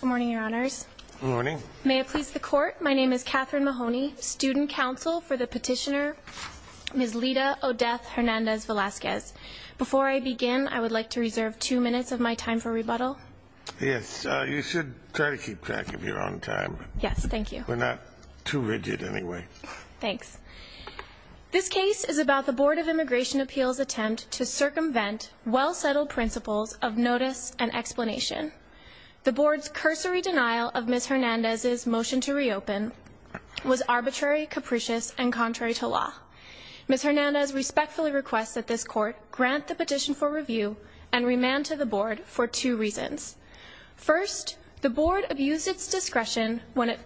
Good morning, your honors. Good morning. May it please the court, my name is Katherine Mahoney, student counsel for the petitioner Ms. Lita Odeth Hernandez Velasquez. Before I begin, I would like to reserve two minutes of my time for rebuttal. Yes, you should try to keep track of your own time. Yes. Thank you. We're not too rigid anyway. Thanks. This case is about the Board of Immigration Appeals attempt to circumvent well-settled principles of notice and explanation. The board's cursory denial of Ms. Hernandez's motion to reopen was arbitrary, capricious, and contrary to law. Ms. Hernandez respectfully requests that this court grant the petition for review and remand to the board for two reasons. First, the board abused its discretion when it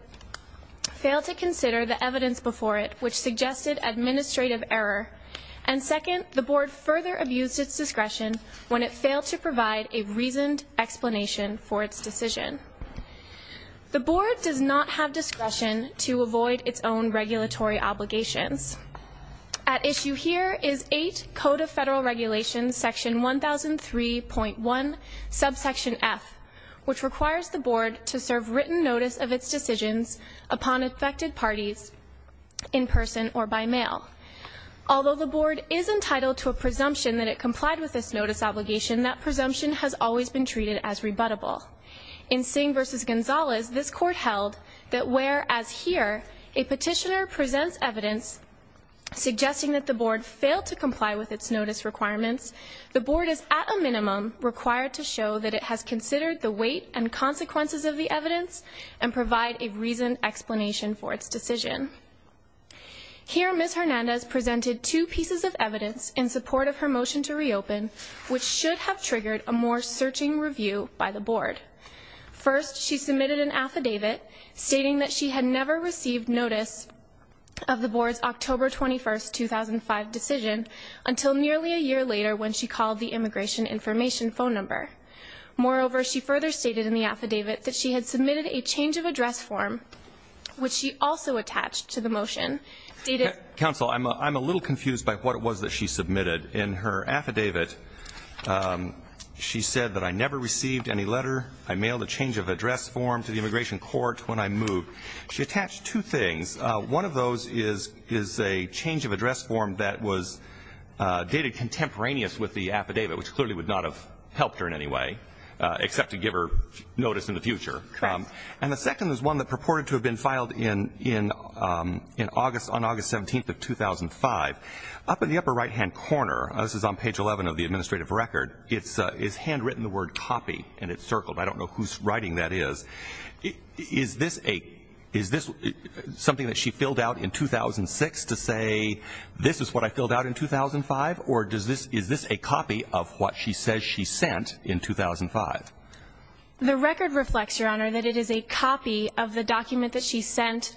failed to consider the evidence before it, which suggested administrative error. And The board does not have discretion to avoid its own regulatory obligations. At issue here is 8 Code of Federal Regulations, section 1003.1, subsection F, which requires the board to serve written notice of its decisions upon affected parties in person or by mail. Although the board is entitled to a presumption that it complied with this notice obligation, that presumption has always been treated as rebuttable. In Singh v. Gonzalez, this court held that whereas here a petitioner presents evidence suggesting that the board failed to comply with its notice requirements, the board is at a minimum required to show that it has considered the weight and consequences of the evidence and provide a reasoned explanation for its decision. Here Ms. Hernandez presented two pieces of evidence in support of her motion to reopen, which should have triggered a more searching review by the board. First, she submitted an affidavit stating that she had never received notice of the board's October 21st, 2005 decision until nearly a year later when she called the immigration information phone number. Moreover, she further stated in the affidavit that she had submitted a change of address form, which she also attached to the motion. Counsel, I'm a little confused by what it was that she submitted. In her affidavit, she said that I never received any letter. I mailed a change of address form to the immigration court when I moved. She attached two things. One of those is a change of address form that was dated contemporaneous with the affidavit, which clearly would not have helped her in any way, except to give her notice in the future. And the second is one that purported to have been filed in August, on August 17th of 2005. Up in the upper right-hand corner, this is on page 11 of the administrative record, it's handwritten the word copy, and it's circled. I don't know who's writing that is. Is this a, is this something that she filled out in 2006 to say, this is what I filled out in 2005, or does this, is this a copy of what she says she sent in 2005? The record reflects, Your Honor, that it is a copy of the document that she sent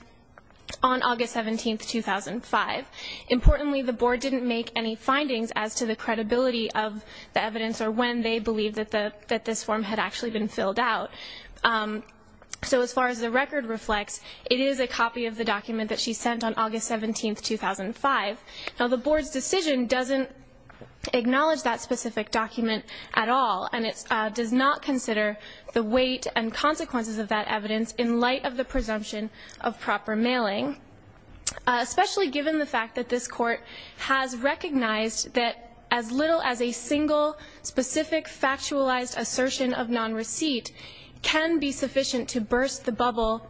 on August 17th, 2005. Importantly, the board didn't make any findings as to the credibility of the evidence or when they believed that the, that this form had actually been filled out. So as far as the record reflects, it is a copy of the document that she sent on August 17th, 2005. Now, the board's decision doesn't acknowledge that specific document at all, and it does not consider the weight and consequences of that evidence in light of the presumption of proper mailing, especially given the fact that this court has recognized that as little as a single, specific, factualized assertion of non-receipt can be sufficient to burst the bubble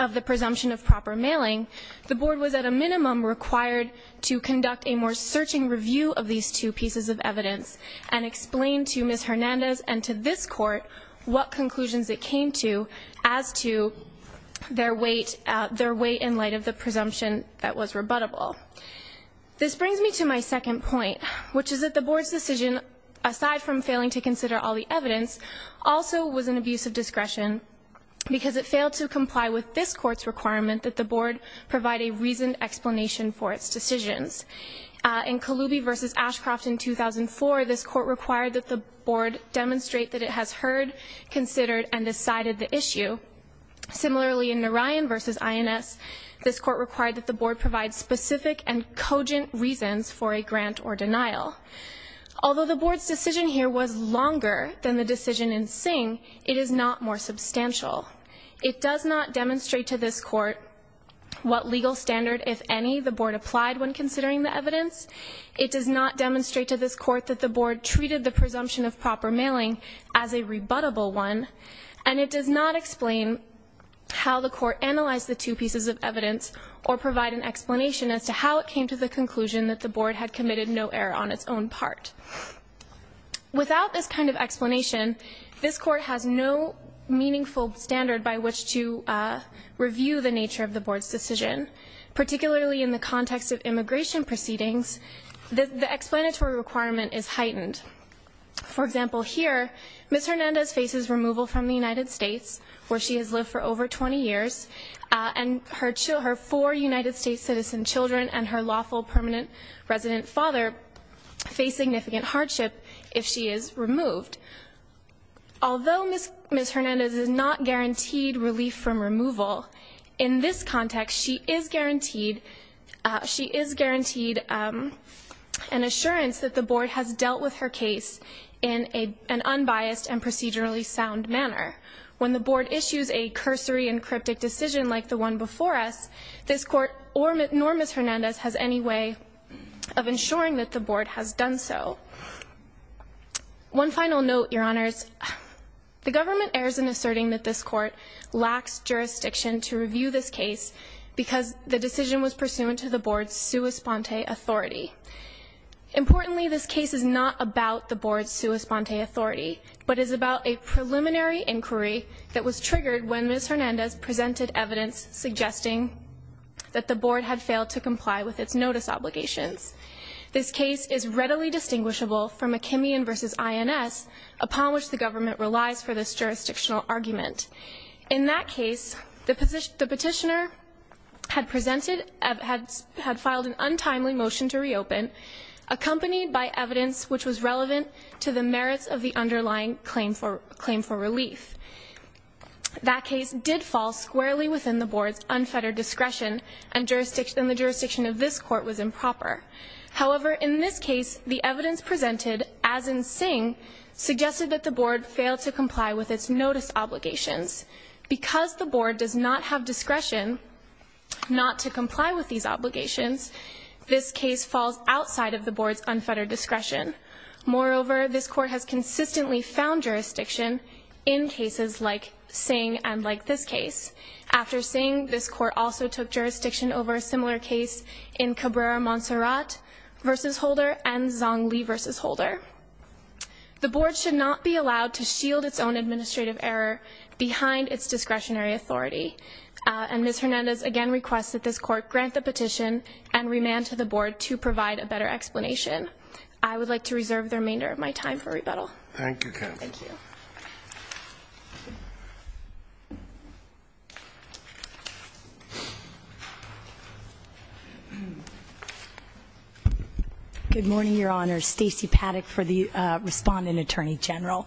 of the presumption of proper mailing. The board was at a minimum required to conduct a more searching review of these two pieces of evidence and explain to Ms. Hernandez and to this court what conclusions it came to as to their weight, their weight in light of the presumption that was rebuttable. This brings me to my second point, which is that the board's decision, aside from failing to consider all the evidence, also was an abuse of discretion because it failed to comply with this court's requirement that the board provide a reasoned explanation for its decisions. In Kaloubi v. Ashcroft in 2004, this court required that the board demonstrate that it has heard, considered, and decided the issue. Similarly, in Narayan v. INS, this court required that the board provide specific and cogent reasons for a grant or denial. Although the board's decision here was longer than the decision in Singh, it is not more substantial. It does not demonstrate to this court what legal standard, if any, the board applied when considering the evidence. It does not demonstrate to this court that the board treated the presumption of proper mailing as a rebuttable one, and it does not explain how the court analyzed the two pieces of evidence or provide an explanation as to how it came to the conclusion that the board had committed no error on its own part. Without this kind of explanation, this court has no meaningful standard by which to determine the nature of the board's decision, particularly in the context of immigration proceedings, the explanatory requirement is heightened. For example, here, Ms. Hernandez faces removal from the United States, where she has lived for over 20 years, and her four United States citizen children and her lawful permanent resident father face significant hardship if she is removed. Although Ms. Hernandez is not guaranteed relief from removal, in this context, she is guaranteed she is guaranteed an assurance that the board has dealt with her case in an unbiased and procedurally sound manner. When the board issues a cursory and cryptic decision like the one before us, this court, nor Ms. Hernandez, has any way of ensuring that the board has done so. One final note, Your Honors. The government errs in asserting that this court lacks jurisdiction to review this case because the decision was pursuant to the board's sua sponte authority. Importantly, this case is not about the board's sua sponte authority, but is about a preliminary inquiry that was triggered when Ms. Hernandez presented evidence suggesting that the board had failed to comply with its notice obligations. This case is readily distinguishable from McKimian v. INS, upon which the government relies for this jurisdictional argument. In that case, the petitioner had presented, had filed an untimely motion to reopen, accompanied by evidence which was relevant to the merits of the underlying claim for relief. That case did fall squarely within the board's unfettered discretion, and the jurisdiction of this court was improper. However, in this case, the evidence presented, as in Singh, suggested that the board failed to comply with its notice obligations. Because the board does not have discretion not to comply with these obligations, this case falls outside of the board's unfettered discretion. Moreover, this court has consistently found jurisdiction in cases like Singh and like this case. After Singh, this court also took jurisdiction over a similar case in Cabrera-Monserrat v. Holder and Zongli v. Holder. The board should not be allowed to shield its own administrative error behind its discretionary authority. And Ms. Hernandez again requests that this court grant the petition and remand to the board to provide a better explanation. I would like to reserve the remainder of my time for rebuttal. Good morning, Your Honor. Stacey Paddock for the respondent attorney general.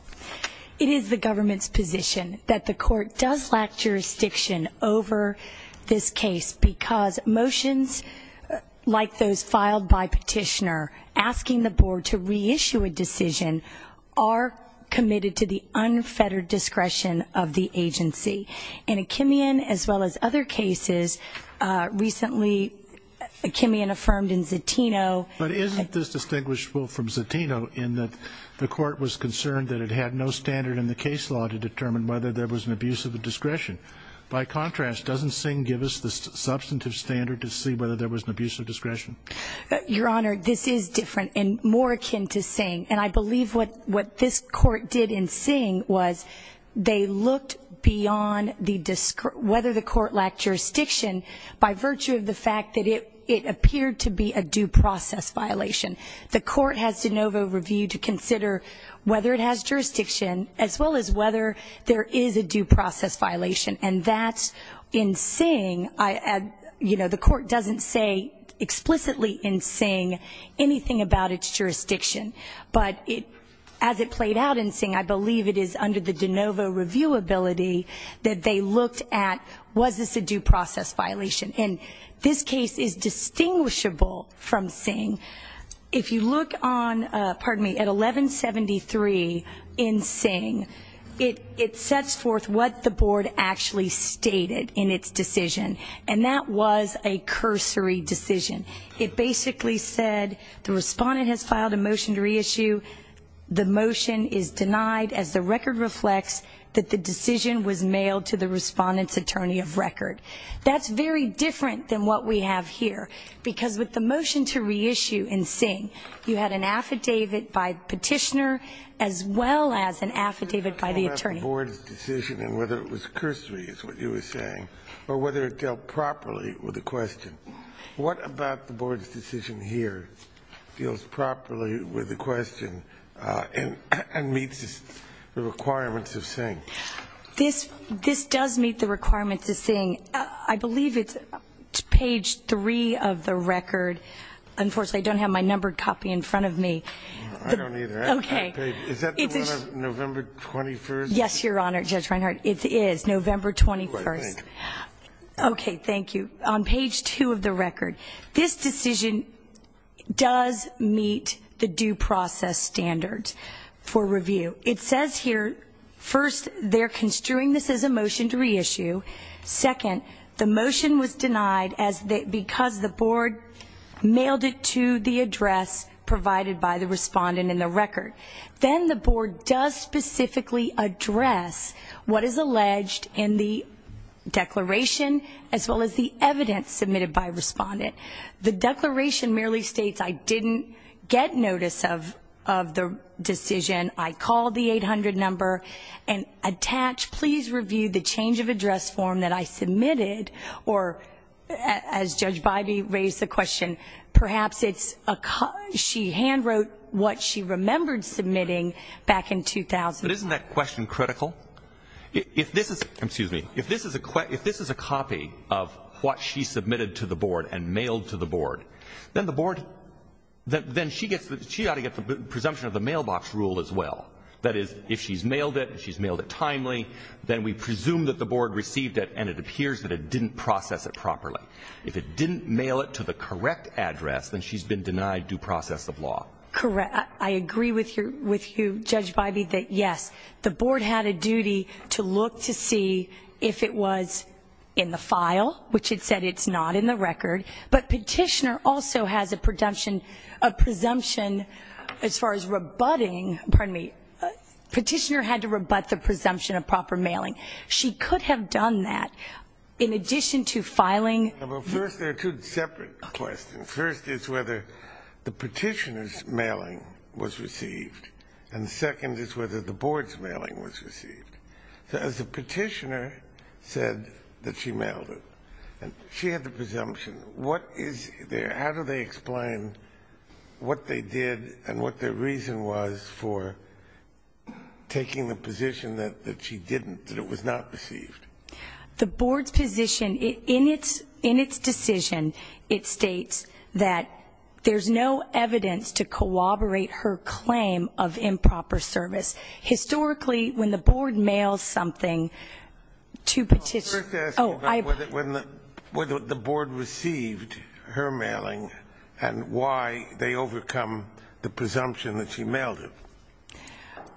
It is the government's position that the court does lack jurisdiction over this case because motions like those filed by petitioner asking the board to reissue a decision are committed to the unfettered discretion of the agency. In Achimian as well as other cases, recently Achimian affirmed in Zatino But isn't this distinguishable from Zatino in that the court was concerned that it had no standard in the case law to determine whether there was an abuse of the discretion. By contrast, doesn't Singh give us the substantive standard to see whether there was an abuse of discretion? Your Honor, this is different and more akin to Singh. And I believe what this court did in Singh was they looked beyond whether the court lacked jurisdiction by virtue of the fact that it appeared to be a due process violation. The court has de novo review to consider whether it has jurisdiction as well as whether there is a due process violation. And that's in Singh, you know, the court doesn't say explicitly in Singh anything about its jurisdiction. But as it played out in Singh, I believe it is under the de novo review ability that they looked at was this a due process violation. And this case is distinguishable from Singh. If you look on, pardon me, at 1173 in Singh, it sets forth what the board actually stated in its decision. And that was a cursory decision. It basically said the respondent has filed a motion to reissue. The motion is denied as the record reflects that the decision was mailed to the respondent's attorney of record. That's very different than what we have here. Because with the motion to reissue in Singh, you had an affidavit by petitioner as well as an affidavit by the attorney. The board's decision and whether it was cursory is what you were saying, or whether it dealt properly with the question. What about the board's decision here deals properly with the question and meets the requirements of Singh? This does meet the requirements of Singh. I believe it's page three of the record. Unfortunately, I don't have my numbered copy in front of me. I don't either. Okay. Is that the one of November 21st? Yes, Your Honor, Judge Reinhart. It is November 21st. Right, thank you. Okay, thank you. On page two of the record, this decision does meet the due process standards for review. It says here, first, they're construing this as a motion to reissue. Second, the motion was denied because the board mailed it to the address provided by the respondent in the record. Then the board does specifically address what is alleged in the declaration as well as the evidence submitted by a respondent. The declaration merely states I didn't get notice of the decision. I called the 800 number and attached, please review the change of address form that I submitted. Or as Judge Bybee raised the question, perhaps it's a, she hand wrote what she remembered submitting back in 2000. But isn't that question critical? If this is, excuse me, if this is a, if this is a copy of what she submitted to the board and mailed to the board, then the board, then she gets, she ought to get the presumption of the mailbox rule as well. That is, if she's mailed it, if she's mailed it timely, then we presume that the board received it and it appears that it didn't process it properly. If it didn't mail it to the correct address, then she's been denied due process of law. Correct, I agree with you, Judge Bybee, that yes, the board had a duty to look to see if it was in the file, which it said it's not in the record. But petitioner also has a presumption, a presumption as far as rebutting, pardon me. Petitioner had to rebut the presumption of proper mailing. She could have done that in addition to filing. Well, first there are two separate questions. First is whether the petitioner's mailing was received. And second is whether the board's mailing was received. So as the petitioner said that she mailed it, and she had the presumption. What is their, how do they explain what they did and what their reason was for taking the position that she didn't, that it was not received? The board's position, in its decision, it states that there's no evidence to corroborate her claim of improper service. Historically, when the board mails something to petitioner. I was just asking about whether the board received her mailing and why they overcome the presumption that she mailed it.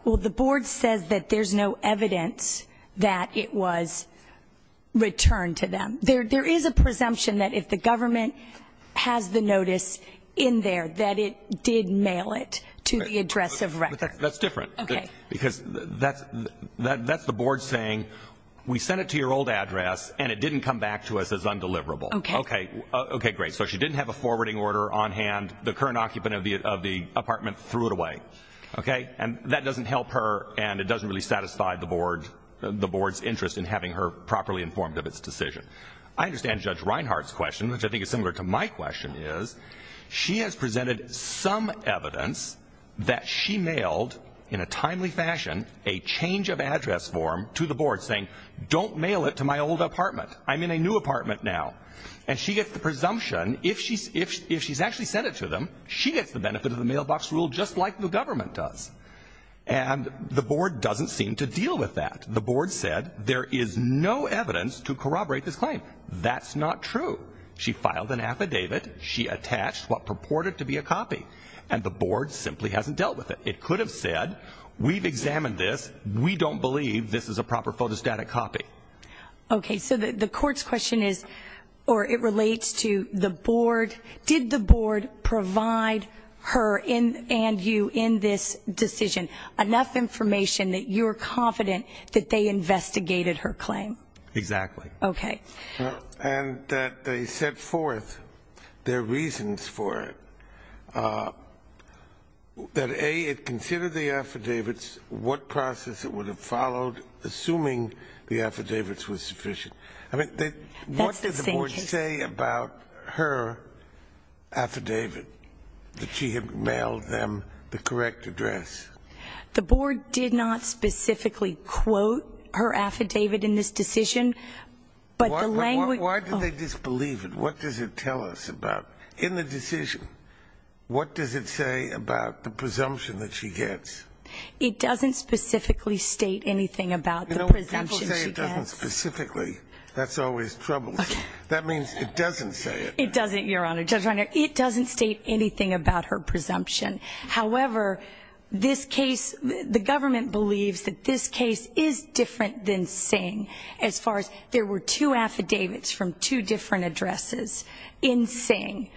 Well, the board says that there's no evidence that it was returned to them. There is a presumption that if the government has the notice in there that it did mail it to the address of record. But that's different, because that's the board saying, we sent it to your old address, and it didn't come back to us as undeliverable. Okay, great. So she didn't have a forwarding order on hand. The current occupant of the apartment threw it away, okay? And that doesn't help her, and it doesn't really satisfy the board's interest in having her properly informed of its decision. I understand Judge Reinhart's question, which I think is similar to my question is. She has presented some evidence that she mailed, in a timely fashion, a change of address form to the board saying, don't mail it to my old apartment. I'm in a new apartment now. And she gets the presumption, if she's actually sent it to them, she gets the benefit of the mailbox rule just like the government does. And the board doesn't seem to deal with that. The board said there is no evidence to corroborate this claim. That's not true. She filed an affidavit. She attached what purported to be a copy. And the board simply hasn't dealt with it. It could have said, we've examined this. We don't believe this is a proper photostatic copy. Okay, so the court's question is, or it relates to the board. Did the board provide her and you in this decision enough information that you're confident that they investigated her claim? Exactly. Okay. And that they set forth their reasons for it. That A, it considered the affidavits, what process it would have followed, assuming the affidavits were sufficient. I mean, what did the board say about her affidavit? That she had mailed them the correct address? The board did not specifically quote her affidavit in this decision. But the language- Why did they disbelieve it? What does it tell us about, in the decision? What does it say about the presumption that she gets? It doesn't specifically state anything about the presumption she gets. You know, to say it doesn't specifically, that's always troublesome. That means it doesn't say it. It doesn't, Your Honor. Judge Reiner, it doesn't state anything about her presumption. However, this case, the government believes that this case is different than Singh, as far as, there were two affidavits from two different addresses. In Singh,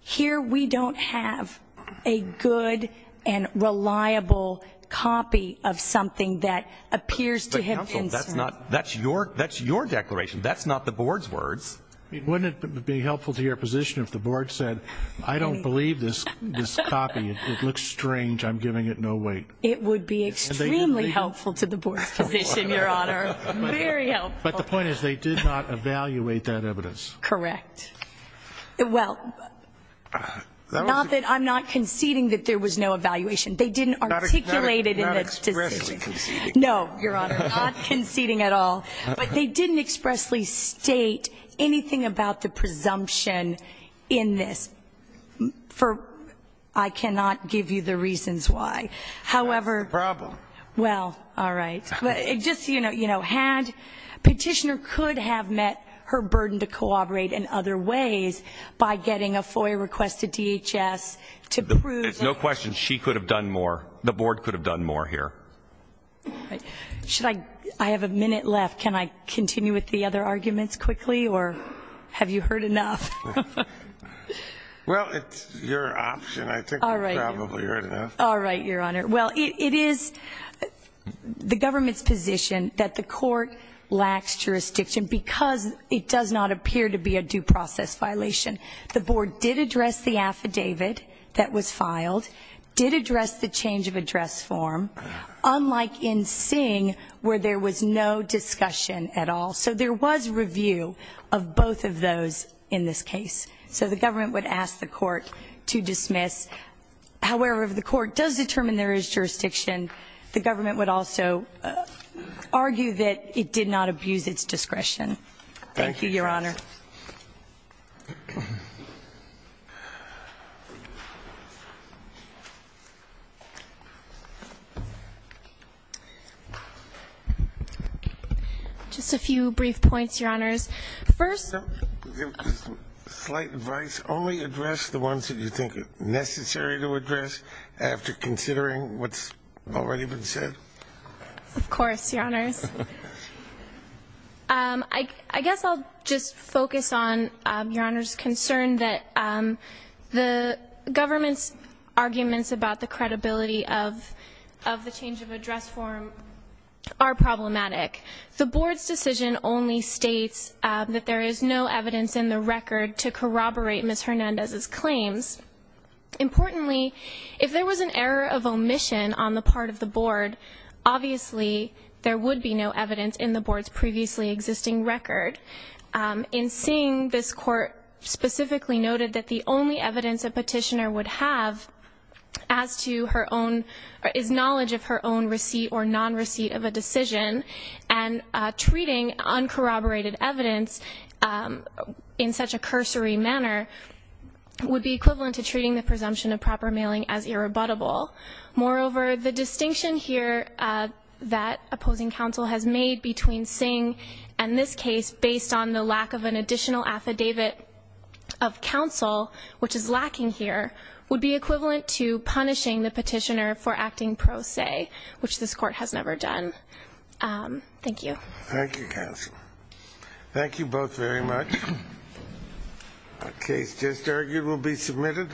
here we don't have a good and reliable copy of something that appears to have been- But counsel, that's not, that's your, that's your declaration. That's not the board's words. Wouldn't it be helpful to your position if the board said, I don't believe this, this copy, it looks strange, I'm giving it no weight. It would be extremely helpful to the board's position, Your Honor. Very helpful. But the point is, they did not evaluate that evidence. Correct. Well, not that I'm not conceding that there was no evaluation. They didn't articulate it in the decision. Not expressly conceding. No, Your Honor, not conceding at all. But they didn't expressly state anything about the presumption in this. For, I cannot give you the reasons why. However- Problem. Well, all right. But it just, you know, had, petitioner could have met her burden to cooperate in other ways by getting a FOIA request to DHS to prove- No question, she could have done more. The board could have done more here. Should I, I have a minute left. Can I continue with the other arguments quickly, or have you heard enough? Well, it's your option. I think you've probably heard enough. All right, Your Honor. Well, it is the government's position that the court lacks jurisdiction because it does not appear to be a due process violation. The board did address the affidavit that was filed, did address the change of address form, unlike in Singh, where there was no discussion at all. So there was review of both of those in this case. So the government would ask the court to dismiss. However, if the court does determine there is jurisdiction, the government would also argue that it did not abuse its discretion. Thank you, Your Honor. Just a few brief points, Your Honors. First- Slight advice, only address the ones that you think are necessary to address after considering what's already been said. Of course, Your Honors. I guess I'll just focus on Your Honor's concern that the government's arguments about the credibility of the change of address form are problematic. The board's decision only states that there is no evidence in the record to corroborate Ms. Hernandez's claims. Importantly, if there was an error of omission on the part of the board, obviously there would be no evidence in the board's previously existing record. In Singh, this court specifically noted that the only evidence a petitioner would have as to her own, is knowledge of her own receipt or non-receipt of a decision. And treating uncorroborated evidence in such a cursory manner would be equivalent to treating the presumption of proper mailing as irrebuttable. Moreover, the distinction here that opposing counsel has made between Singh and this case based on the lack of an additional affidavit of counsel, which is lacking here, would be equivalent to punishing the petitioner for acting pro se, which this court has never done. Thank you. Thank you, counsel. Thank you both very much. A case just argued will be submitted.